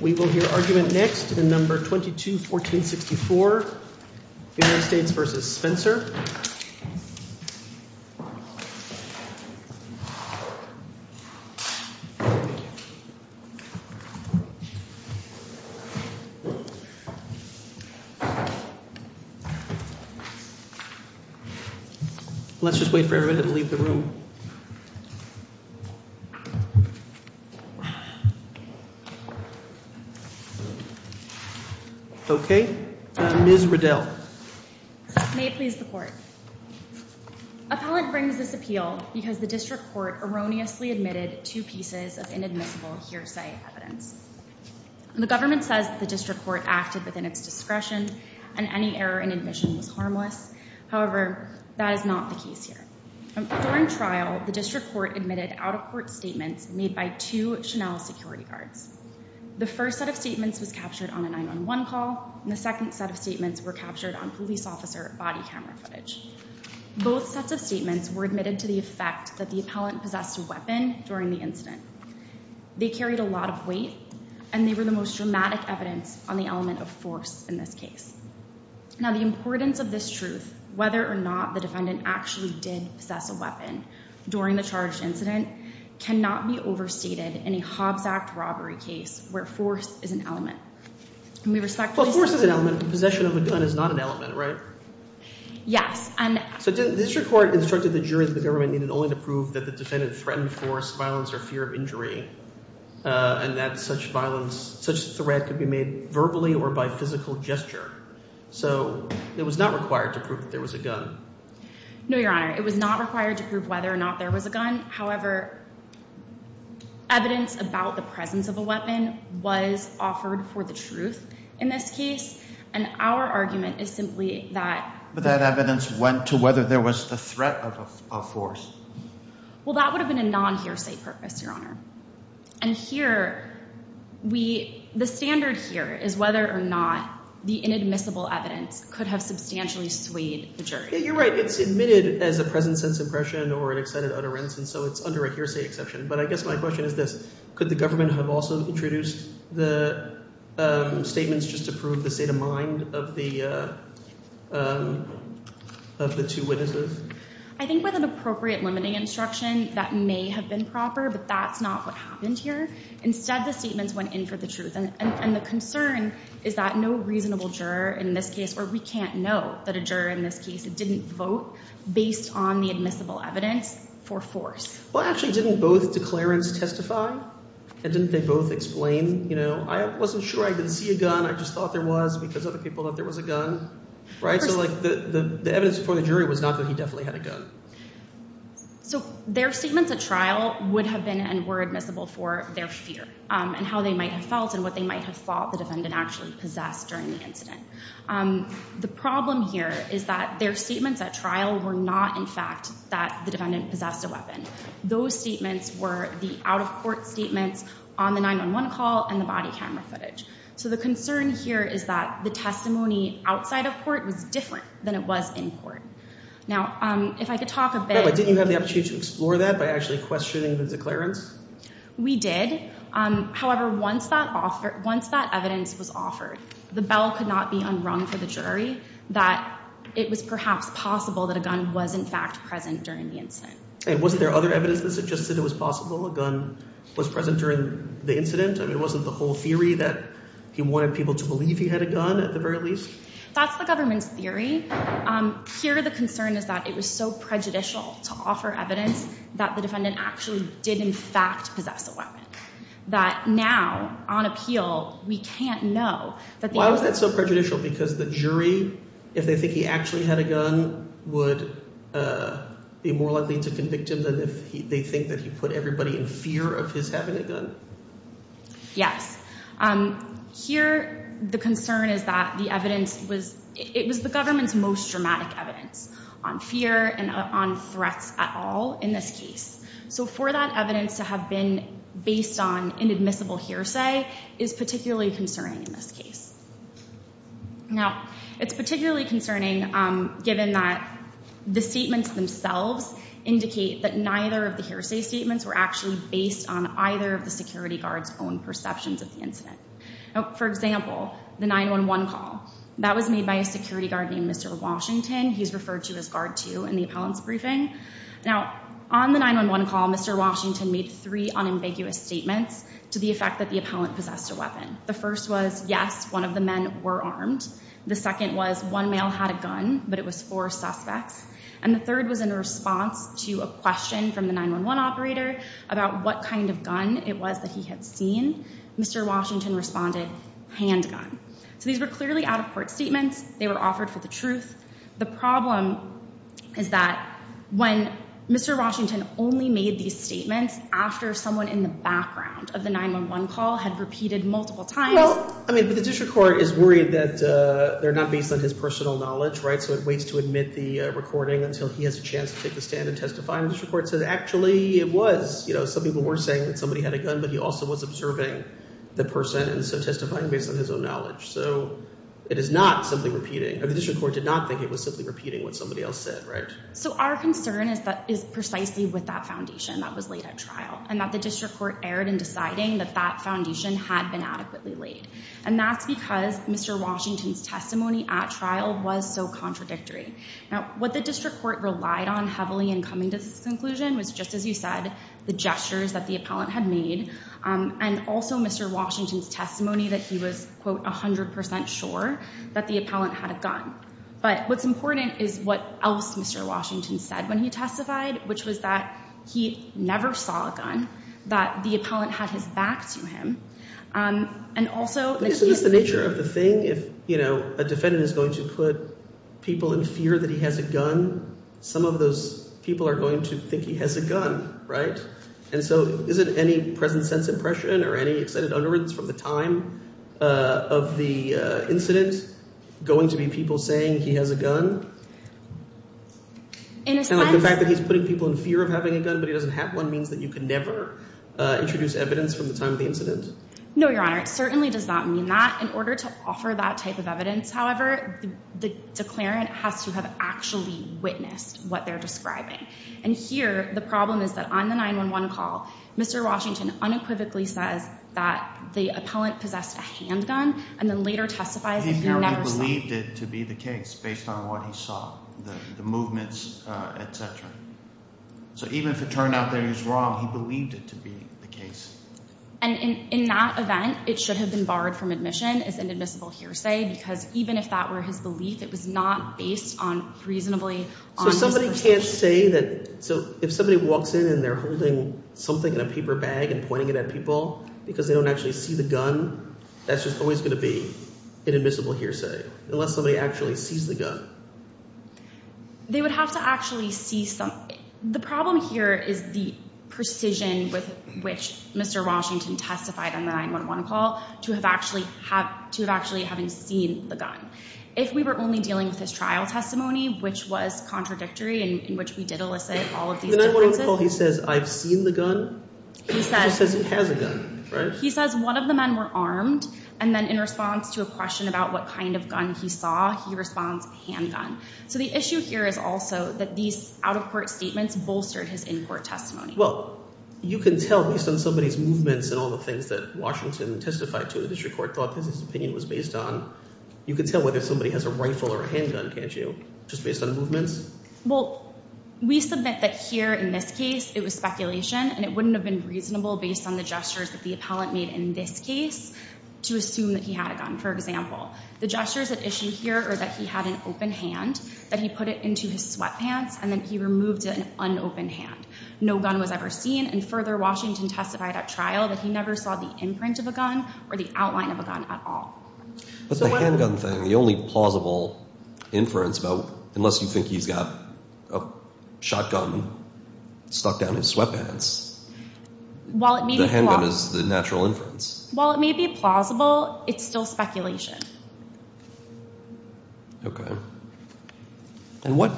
We will hear argument next in No. 22-1464, United States v. Spencer. Let's just wait for everybody to leave the room. Okay. Ms. Riddell. May it please the Court. Appellant brings this appeal because the District Court erroneously admitted two pieces of inadmissible hearsay evidence. The government says that the District Court acted within its discretion and any error in admission was harmless. However, that is not the case here. During trial, the District Court admitted out-of-court statements made by two Chanel security guards. The first set of statements was captured on a 911 call, and the second set of statements were captured on police officer body camera footage. Both sets of statements were admitted to the effect that the appellant possessed a weapon during the incident. They carried a lot of weight, and they were the most dramatic evidence on the element of force in this case. Now, the importance of this truth, whether or not the defendant actually did possess a weapon during the charged incident, cannot be overstated in a Hobbs Act robbery case where force is an element. And we respectfully seek... Well, force is an element. Possession of a gun is not an element, right? Yes. And... So the District Court instructed the jury that the government needed only to prove that the defendant threatened force, violence, or fear of injury, and that such violence, such threat could be made verbally or by physical gesture. So it was not required to prove that there was a gun. No, Your Honor. It was not required to prove whether or not there was a gun. However, evidence about the presence of a weapon was offered for the truth in this case, and our argument is simply that... That evidence went to whether there was a threat of force. Well, that would have been a non-hearsay purpose, Your Honor. And here, the standard here is whether or not the inadmissible evidence could have substantially swayed the jury. You're right. It's admitted as a present sense impression or an excited utterance, and so it's under a hearsay exception. But I guess my question is this, could the government have also introduced the statements just to prove the state of mind of the two witnesses? I think with an appropriate limiting instruction, that may have been proper, but that's not what happened here. Instead, the statements went in for the truth, and the concern is that no reasonable juror in this case, or we can't know that a juror in this case, didn't vote based on the admissible evidence for force. Well, actually, didn't both declarants testify, and didn't they both explain, you know, I wasn't sure I didn't see a gun, I just thought there was because other people thought there was a gun, right? So like the evidence before the jury was not that he definitely had a gun. So their statements at trial would have been and were admissible for their fear, and how they might have felt and what they might have thought the defendant actually possessed during the incident. The problem here is that their statements at trial were not, in fact, that the defendant possessed a weapon. Those statements were the out-of-court statements on the 911 call and the body camera footage. So the concern here is that the testimony outside of court was different than it was in court. Now, if I could talk a bit... But didn't you have the opportunity to explore that by actually questioning the declarants? We did. We did. However, once that evidence was offered, the bell could not be unrung for the jury that it was perhaps possible that a gun was, in fact, present during the incident. And wasn't there other evidence that suggested it was possible a gun was present during the incident? I mean, wasn't the whole theory that he wanted people to believe he had a gun at the very least? That's the government's theory. Here the concern is that it was so prejudicial to offer evidence that the defendant actually did, in fact, possess a weapon. That now, on appeal, we can't know that... Why was that so prejudicial? Because the jury, if they think he actually had a gun, would be more likely to convict him than if they think that he put everybody in fear of his having a gun? Yes. Here, the concern is that the evidence was... It was the government's most dramatic evidence on fear and on threats at all in this case. So for that evidence to have been based on inadmissible hearsay is particularly concerning in this case. Now it's particularly concerning given that the statements themselves indicate that neither of the hearsay statements were actually based on either of the security guard's own perceptions of the incident. For example, the 911 call. That was made by a security guard named Mr. Washington. He's referred to as Guard 2 in the appellant's briefing. Now, on the 911 call, Mr. Washington made three unambiguous statements to the effect that the appellant possessed a weapon. The first was, yes, one of the men were armed. The second was, one male had a gun, but it was four suspects. And the third was in response to a question from the 911 operator about what kind of gun it was that he had seen. Mr. Washington responded, handgun. So these were clearly out-of-court statements. They were offered for the truth. The problem is that when Mr. Washington only made these statements after someone in the background of the 911 call had repeated multiple times. I mean, the district court is worried that they're not based on his personal knowledge, right? So it waits to admit the recording until he has a chance to take the stand and testify. And the district court says, actually, it was. Some people were saying that somebody had a gun, but he also was observing the person and so testifying based on his own knowledge. So it is not simply repeating. The district court did not think it was simply repeating what somebody else said, right? So our concern is precisely with that foundation that was laid at trial, and that the district court erred in deciding that that foundation had been adequately laid. And that's because Mr. Washington's testimony at trial was so contradictory. Now, what the district court relied on heavily in coming to this conclusion was, just as you said, the gestures that the appellant had made, and also Mr. Washington's testimony that he was, quote, 100% sure that the appellant had a gun. But what's important is what else Mr. Washington said when he testified, which was that he never saw a gun, that the appellant had his back to him, and also that he had— So is this the nature of the thing? If a defendant is going to put people in fear that he has a gun, some of those people are going to think he has a gun, right? And so is it any present-sense impression or any extended understanding from the time of the incident going to be people saying he has a gun? And the fact that he's putting people in fear of having a gun, but he doesn't have one, means that you can never introduce evidence from the time of the incident? No, Your Honor. It certainly does not mean that. In order to offer that type of evidence, however, the declarant has to have actually witnessed what they're describing. And here, the problem is that on the 911 call, Mr. Washington unequivocally says that the appellant possessed a handgun, and then later testifies that he never saw it. He clearly believed it to be the case, based on what he saw, the movements, et cetera. So even if it turned out that he was wrong, he believed it to be the case. And in that event, it should have been barred from admission as an admissible hearsay, because even if that were his belief, it was not based on reasonably— So somebody can't say that—so if somebody walks in and they're holding something in a paper bag and pointing it at people because they don't actually see the gun, that's just always going to be an admissible hearsay, unless somebody actually sees the gun? They would have to actually see some—the problem here is the precision with which Mr. Washington testified on the 911 call to have actually having seen the gun. If we were only dealing with his trial testimony, which was contradictory, in which we did elicit all of these differences— The 911 call, he says, I've seen the gun, but he says he has a gun, right? He says one of the men were armed, and then in response to a question about what kind of gun he saw, he responds, handgun. So the issue here is also that these out-of-court statements bolstered his in-court testimony. Well, you can tell, based on somebody's movements and all the things that Washington testified to, the district court thought his opinion was based on, you can tell whether somebody has a rifle or a handgun, can't you, just based on movements? Well, we submit that here, in this case, it was speculation, and it wouldn't have been reasonable based on the gestures that the appellant made in this case to assume that he had a gun. For example, the gestures at issue here are that he had an open hand, that he put it into his sweatpants, and then he removed an unopened hand. No gun was ever seen, and further, Washington testified at trial that he never saw the imprint of a gun or the outline of a gun at all. But the handgun thing, the only plausible inference about, unless you think he's got a shotgun stuck down his sweatpants, the handgun is the natural inference. While it may be plausible, it's still speculation. Okay. And what...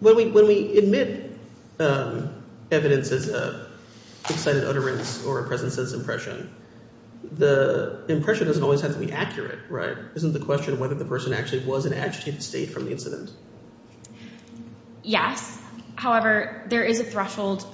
When we admit evidence as an excited utterance or a present sense impression, the impression doesn't always have to be accurate, right? Isn't the question whether the person actually was in agitated state from the incident? Yes. However, there is a threshold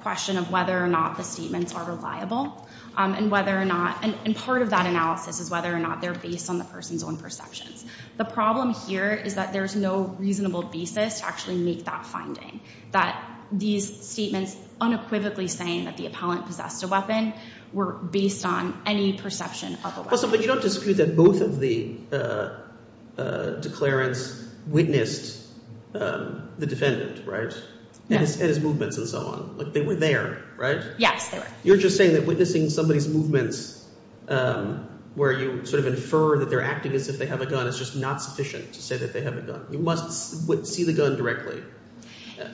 question of whether or not the statements are reliable, and whether or not, and part of that analysis is whether or not they're based on the person's own perceptions. The problem here is that there's no reasonable basis to actually make that finding, that these statements unequivocally saying that the appellant possessed a weapon were based on any perception of a weapon. But you don't dispute that both of the declarants witnessed the defendant, right? Yes. And his movements and so on. Like, they were there, right? Yes, they were. You're just saying that witnessing somebody's movements, where you sort of infer that they're acting as if they have a gun is just not sufficient to say that they have a gun. You must see the gun directly.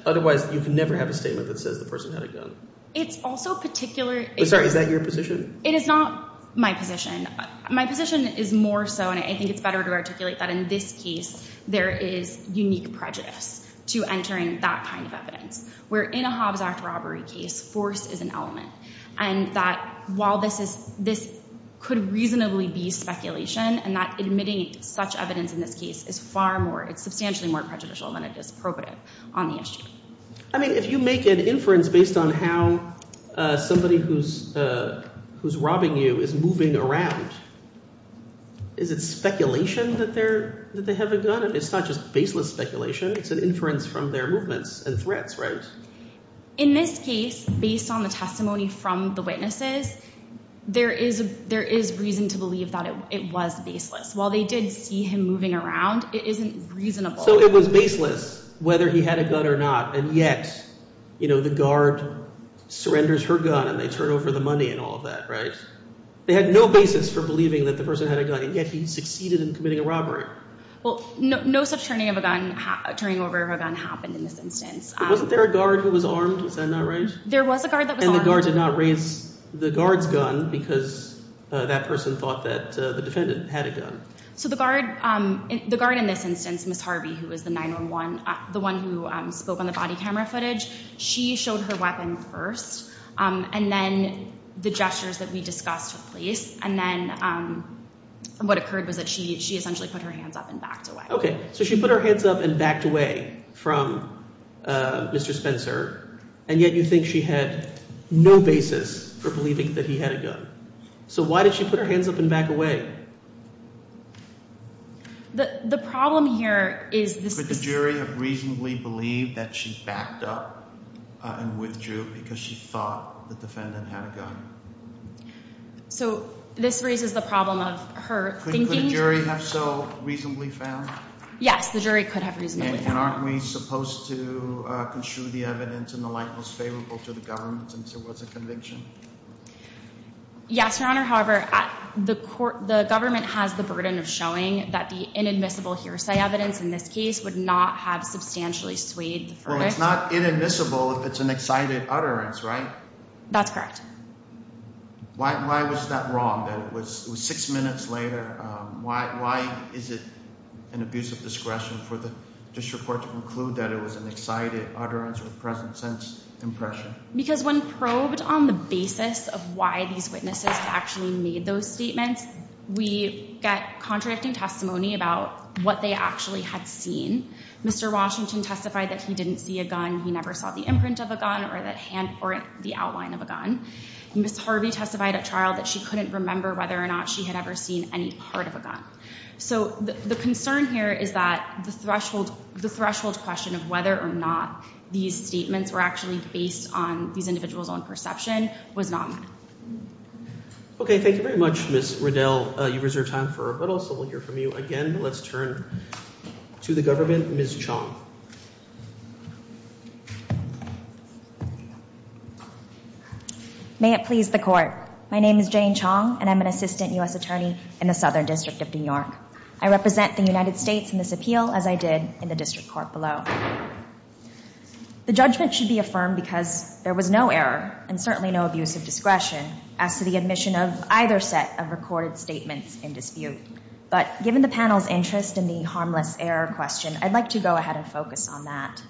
Otherwise, you can never have a statement that says the person had a gun. It's also particular... I'm sorry, is that your position? It is not my position. My position is more so, and I think it's better to articulate that in this case, there is unique prejudice to entering that kind of evidence, where in a Hobbs Act robbery case, force is an element. And that while this could reasonably be speculation, and that admitting such evidence in this case is far more, it's substantially more prejudicial than it is appropriate on the issue. I mean, if you make an inference based on how somebody who's robbing you is moving around, is it speculation that they have a gun? It's not just baseless speculation. It's an inference from their movements and threats, right? In this case, based on the testimony from the witnesses, there is reason to believe that it was baseless. While they did see him moving around, it isn't reasonable. So it was baseless whether he had a gun or not, and yet the guard surrenders her gun and they turn over the money and all of that, right? They had no basis for believing that the person had a gun, and yet he succeeded in committing a robbery. Well, no such turning over of a gun happened in this instance. Wasn't there a guard who was armed? Is that not right? There was a guard that was armed. And the guard did not raise the guard's gun because that person thought that the defendant had a gun. So the guard, the guard in this instance, Ms. Harvey, who was the 9-1-1, the one who spoke on the body camera footage, she showed her weapon first, and then the gestures that we discussed took place, and then what occurred was that she essentially put her hands up and backed away. Okay, so she put her hands up and backed away from Mr. Spencer, and yet you think she had no basis for believing that he had a gun. So why did she put her hands up and back away? The problem here is this… Could the jury have reasonably believed that she backed up and withdrew because she thought the defendant had a gun? So this raises the problem of her thinking… Yes, the jury could have reasonably… And aren't we supposed to construe the evidence in the light most favorable to the government since it was a conviction? Yes, Your Honor. However, the government has the burden of showing that the inadmissible hearsay evidence in this case would not have substantially swayed the verdict. Well, it's not inadmissible if it's an excited utterance, right? That's correct. Why was that wrong, that it was six minutes later? Why is it an abuse of discretion for the district court to conclude that it was an excited utterance or present-sense impression? Because when probed on the basis of why these witnesses actually made those statements, we get contradicting testimony about what they actually had seen. Mr. Washington testified that he didn't see a gun, he never saw the imprint of a gun or the outline of a gun. Ms. Harvey testified at trial that she couldn't remember whether or not she had ever seen any part of a gun. So the concern here is that the threshold question of whether or not these statements were actually based on these individuals' own perception was not met. Okay, thank you very much, Ms. Riddell. You've reserved time for a rebuttal, so we'll hear from you again. Let's turn to the government. Ms. Chong. May it please the Court. My name is Jane Chong, and I'm an assistant U.S. attorney in the Southern District of New York. I represent the United States in this appeal, as I did in the district court below. The judgment should be affirmed because there was no error, and certainly no abuse of discretion, as to the admission of either set of recorded statements in dispute. But given the panel's interest in the harmless error question, I'd like to go ahead and focus on that.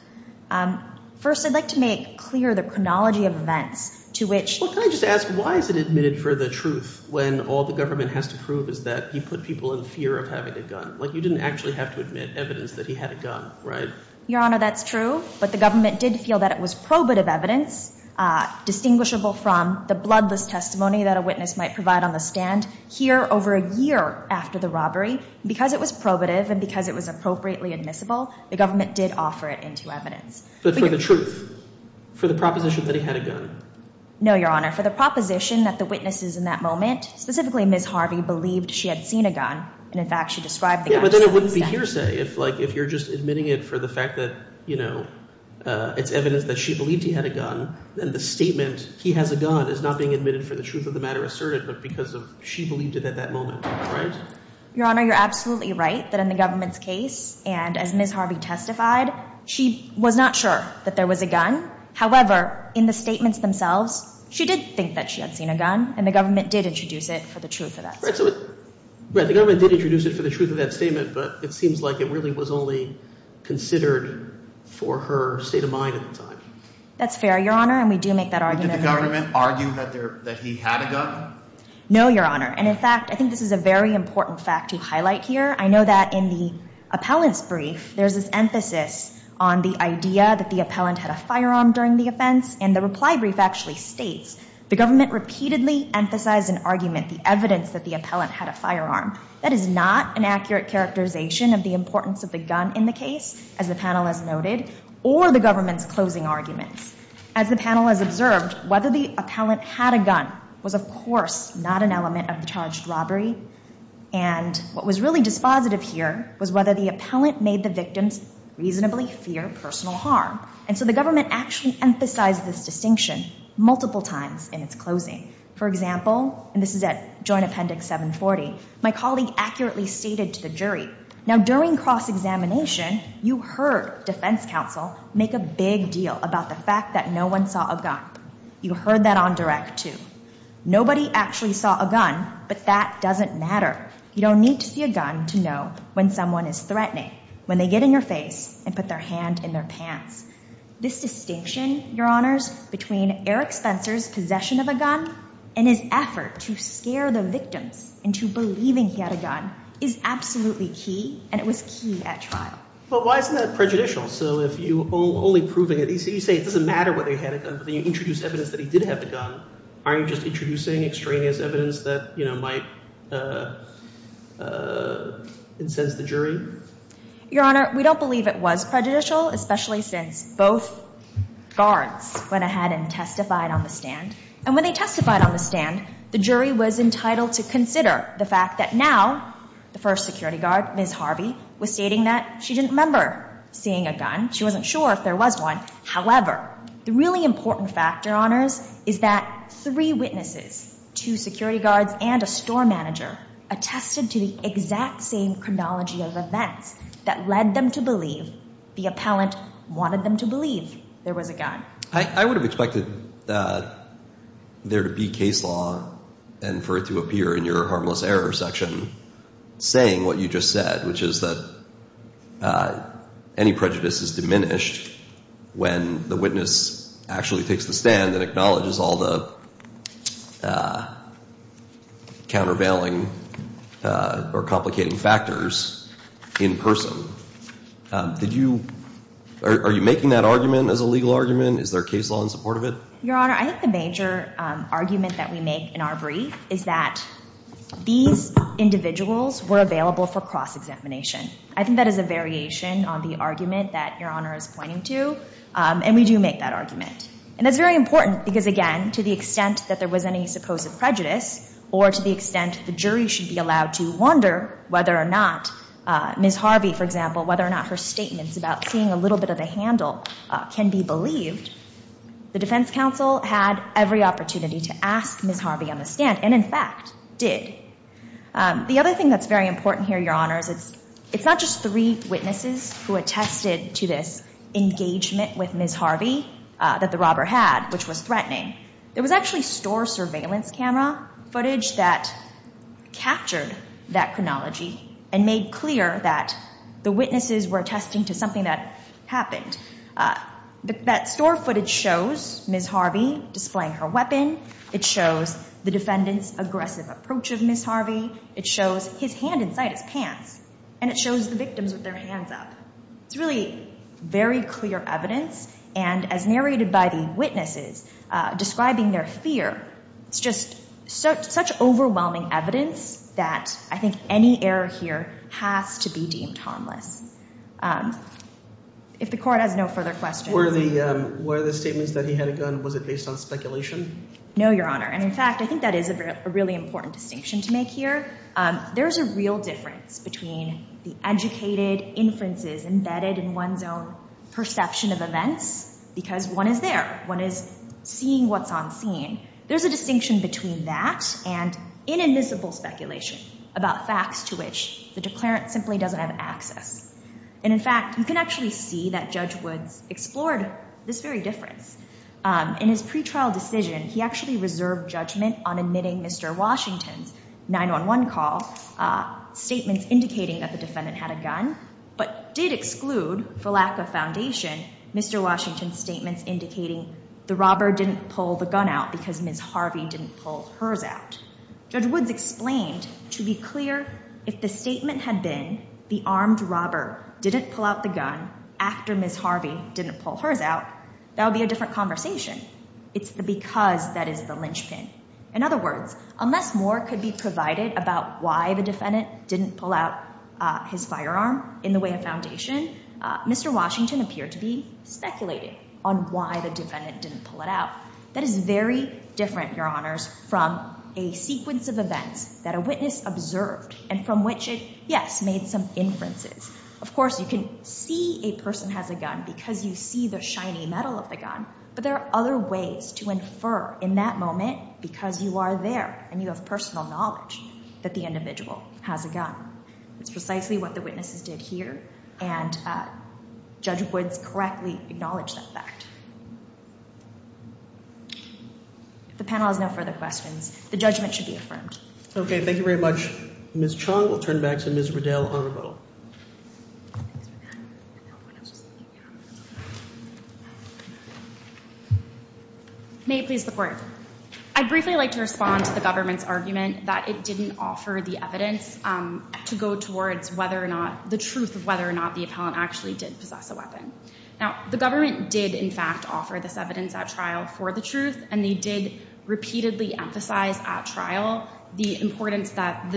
First, I'd like to make clear the chronology of events to which— He wasn't admitted for the truth when all the government has to prove is that he put people in fear of having a gun. Like, you didn't actually have to admit evidence that he had a gun, right? Your Honor, that's true, but the government did feel that it was probative evidence, distinguishable from the bloodless testimony that a witness might provide on the stand. Here, over a year after the robbery, because it was probative and because it was appropriately admissible, the government did offer it into evidence. No, Your Honor. For the proposition that the witnesses in that moment, specifically Ms. Harvey, believed she had seen a gun, and in fact she described the gun— Yeah, but then it wouldn't be hearsay if, like, if you're just admitting it for the fact that, you know, it's evidence that she believed he had a gun, then the statement, he has a gun, is not being admitted for the truth of the matter asserted, but because she believed it at that moment, right? Your Honor, you're absolutely right that in the government's case, and as Ms. Harvey testified, she was not sure that there was a gun. However, in the statements themselves, she did think that she had seen a gun, and the government did introduce it for the truth of that statement. Right, the government did introduce it for the truth of that statement, but it seems like it really was only considered for her state of mind at the time. That's fair, Your Honor, and we do make that argument. Did the government argue that he had a gun? No, Your Honor, and in fact, I think this is a very important fact to highlight here. I know that in the appellant's brief, there's this emphasis on the idea that the appellant had a firearm during the offense, and the reply brief actually states, the government repeatedly emphasized an argument, the evidence that the appellant had a firearm. That is not an accurate characterization of the importance of the gun in the case, as the panel has noted, or the government's closing arguments. As the panel has observed, whether the appellant had a gun was, of course, not an element of the charged robbery, and what was really dispositive here was whether the appellant made the victims reasonably fear personal harm. And so the government actually emphasized this distinction multiple times in its closing. For example, and this is at Joint Appendix 740, my colleague accurately stated to the jury, now during cross-examination, you heard defense counsel make a big deal about the fact that no one saw a gun. You heard that on direct, too. Nobody actually saw a gun, but that doesn't matter. You don't need to see a gun to know when someone is threatening, when they get in your face and put their hand in their pants. This distinction, Your Honors, between Eric Spencer's possession of a gun and his effort to scare the victims into believing he had a gun is absolutely key, and it was key at trial. But why isn't that prejudicial? So if you're only proving it, you say it doesn't matter whether he had a gun, but then you introduce evidence that he did have a gun, aren't you just introducing extraneous evidence that, you know, might incense the jury? Your Honor, we don't believe it was prejudicial, especially since both guards went ahead and testified on the stand. And when they testified on the stand, the jury was entitled to consider the fact that now the first security guard, Ms. Harvey, was stating that she didn't remember seeing a gun, she wasn't sure if there was one. However, the really important fact, Your Honors, is that three witnesses, two security guards and a store manager, attested to the exact same chronology of events that led them to believe the appellant wanted them to believe there was a gun. I would have expected there to be case law and for it to appear in your harmless error section saying what you just said, which is that any prejudice is diminished when the witness actually takes the stand and acknowledges all the countervailing or complicating factors in person. Are you making that argument as a legal argument? Is there case law in support of it? Your Honor, I think the major argument that we make in our brief is that these individuals were available for cross-examination. I think that is a variation on the argument that Your Honor is pointing to and we do make that argument. And that's very important because, again, to the extent that there was any supposed prejudice or to the extent the jury should be allowed to wonder whether or not Ms. Harvey, for example, whether or not her statements about seeing a little bit of a handle can be believed, the defense counsel had every opportunity to ask Ms. Harvey on the stand and, in fact, did. The other thing that's very important here, Your Honors, it's not just three witnesses who attested to this engagement with Ms. Harvey that the robber had, which was threatening. There was actually store surveillance camera footage that captured that chronology and made clear that the witnesses were attesting to something that happened. That store footage shows Ms. Harvey displaying her weapon. It shows the defendant's aggressive approach of Ms. Harvey. It shows his hand inside his pants. And it shows the victims with their hands up. It's really very clear evidence. And as narrated by the witnesses describing their fear, it's just such overwhelming evidence that I think any error here has to be deemed harmless. If the Court has no further questions. Were the statements that he had a gun, was it based on speculation? No, Your Honor. And, in fact, I think that is a really important distinction to make here. There's a real difference between the educated inferences embedded in one's own perception of events, because one is there, one is seeing what's on scene. There's a distinction between that and inadmissible speculation about facts to which the declarant simply doesn't have access. And, in fact, you can actually see that Judge Woods explored this very difference. In his pretrial decision, he actually reserved judgment on admitting Mr. Washington's 911 call, statements indicating that the defendant had a gun, but did exclude, for lack of foundation, Mr. Washington's statements indicating the robber didn't pull the gun out because Ms. Harvey didn't pull hers out. Judge Woods explained, to be clear, if the statement had been the armed robber didn't pull out the gun after Ms. Harvey didn't pull hers out, that would be a different conversation. It's the because that is the linchpin. In other words, unless more could be provided about why the defendant didn't pull out his firearm in the way of foundation, Mr. Washington appeared to be speculating on why the defendant didn't pull it out. That is very different, Your Honors, from a sequence of events that a witness observed and from which it, yes, made some inferences. Of course, you can see a person has a gun because you see the shiny metal of the gun, but there are other ways to infer in that moment because you are there and you have personal knowledge that the individual has a gun. It's precisely what the witnesses did here and Judge Woods correctly acknowledged that fact. If the panel has no further questions, the judgment should be affirmed. Okay, thank you very much. Ms. Chong will turn back to Ms. Riddell-Arnabell. May it please the Court. I'd briefly like to respond to the government's argument that it didn't offer the evidence to go towards the truth of whether or not the appellant actually did possess a weapon. Now, the government did, in fact, offer this evidence at trial for the truth and they did repeatedly emphasize at trial the importance that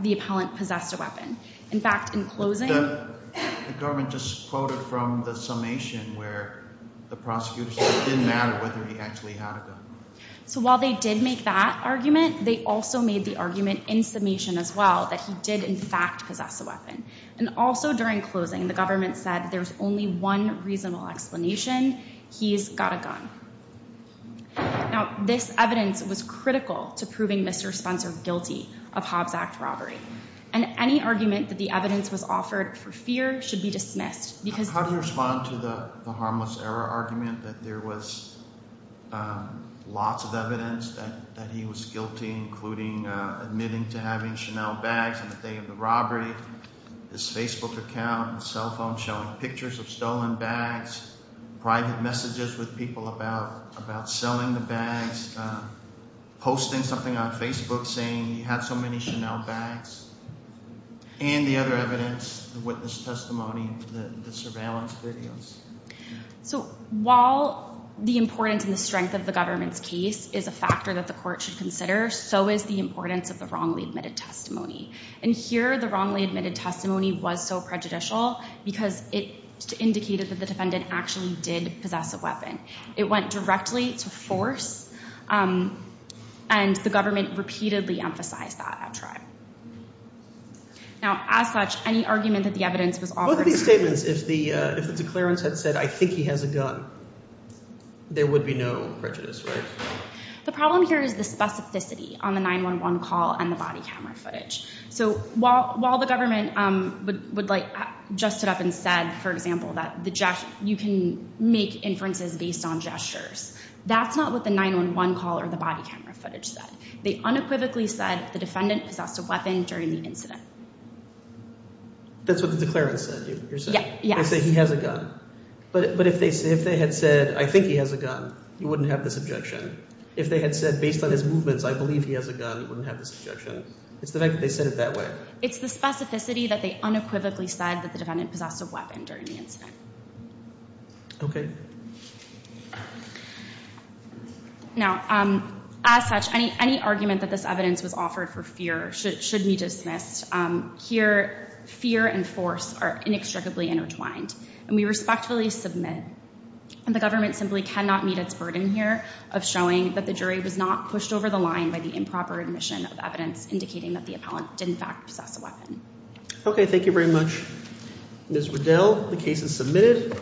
the appellant possessed a weapon. In fact, in closing... The government just quoted from the summation where the prosecutor said it didn't matter whether he actually had a gun. So while they did make that argument, they also made the argument in summation as well that he did, in fact, possess a weapon. And also during closing, the government said there's only one reasonable explanation. He's got a gun. Now, this evidence was critical to proving Mr. Spencer guilty of Hobbs Act robbery. And any argument that the evidence was offered for fear should be dismissed because... How do you respond to the harmless error argument that there was lots of evidence that he was guilty, including admitting to having Chanel bags on the day of the robbery, his Facebook account and cell phone showing pictures of stolen bags, private messages with people about selling the bags, posting something on Facebook saying he had so many Chanel bags, and the other evidence, the witness testimony and the surveillance videos? So while the importance and the strength of the government's case is a factor that the court should consider, so is the importance of the wrongly admitted testimony. And here, the wrongly admitted testimony was so prejudicial because it indicated that the defendant actually did possess a weapon. It went directly to force, and the government repeatedly emphasized that at trial. Now, as such, any argument that the evidence was offered... Both of these statements, if the declarants had said I think he has a gun, there would be no prejudice, right? The problem here is the specificity on the 911 call and the body camera footage. So while the government would like... Just stood up and said, for example, that you can make inferences based on gestures, that's not what the 911 call or the body camera footage said. They unequivocally said the defendant possessed a weapon during the incident. That's what the declarants said, you're saying? They say he has a gun. But if they had said I think he has a gun, you wouldn't have this objection. If they had said based on his movements, I believe he has a gun, you wouldn't have this objection. It's the fact that they said it that way. It's the specificity that they unequivocally said that the defendant possessed a weapon during the incident. Now, as such, any argument that this evidence was offered for fear should be dismissed. Here, fear and force are inextricably intertwined. And we respectfully submit. And the government simply cannot meet its burden here of showing that the jury was not pushed over the line by the improper admission of evidence indicating that the appellant did in fact possess a weapon. Okay, thank you very much, Ms. Riddell. The case is submitted.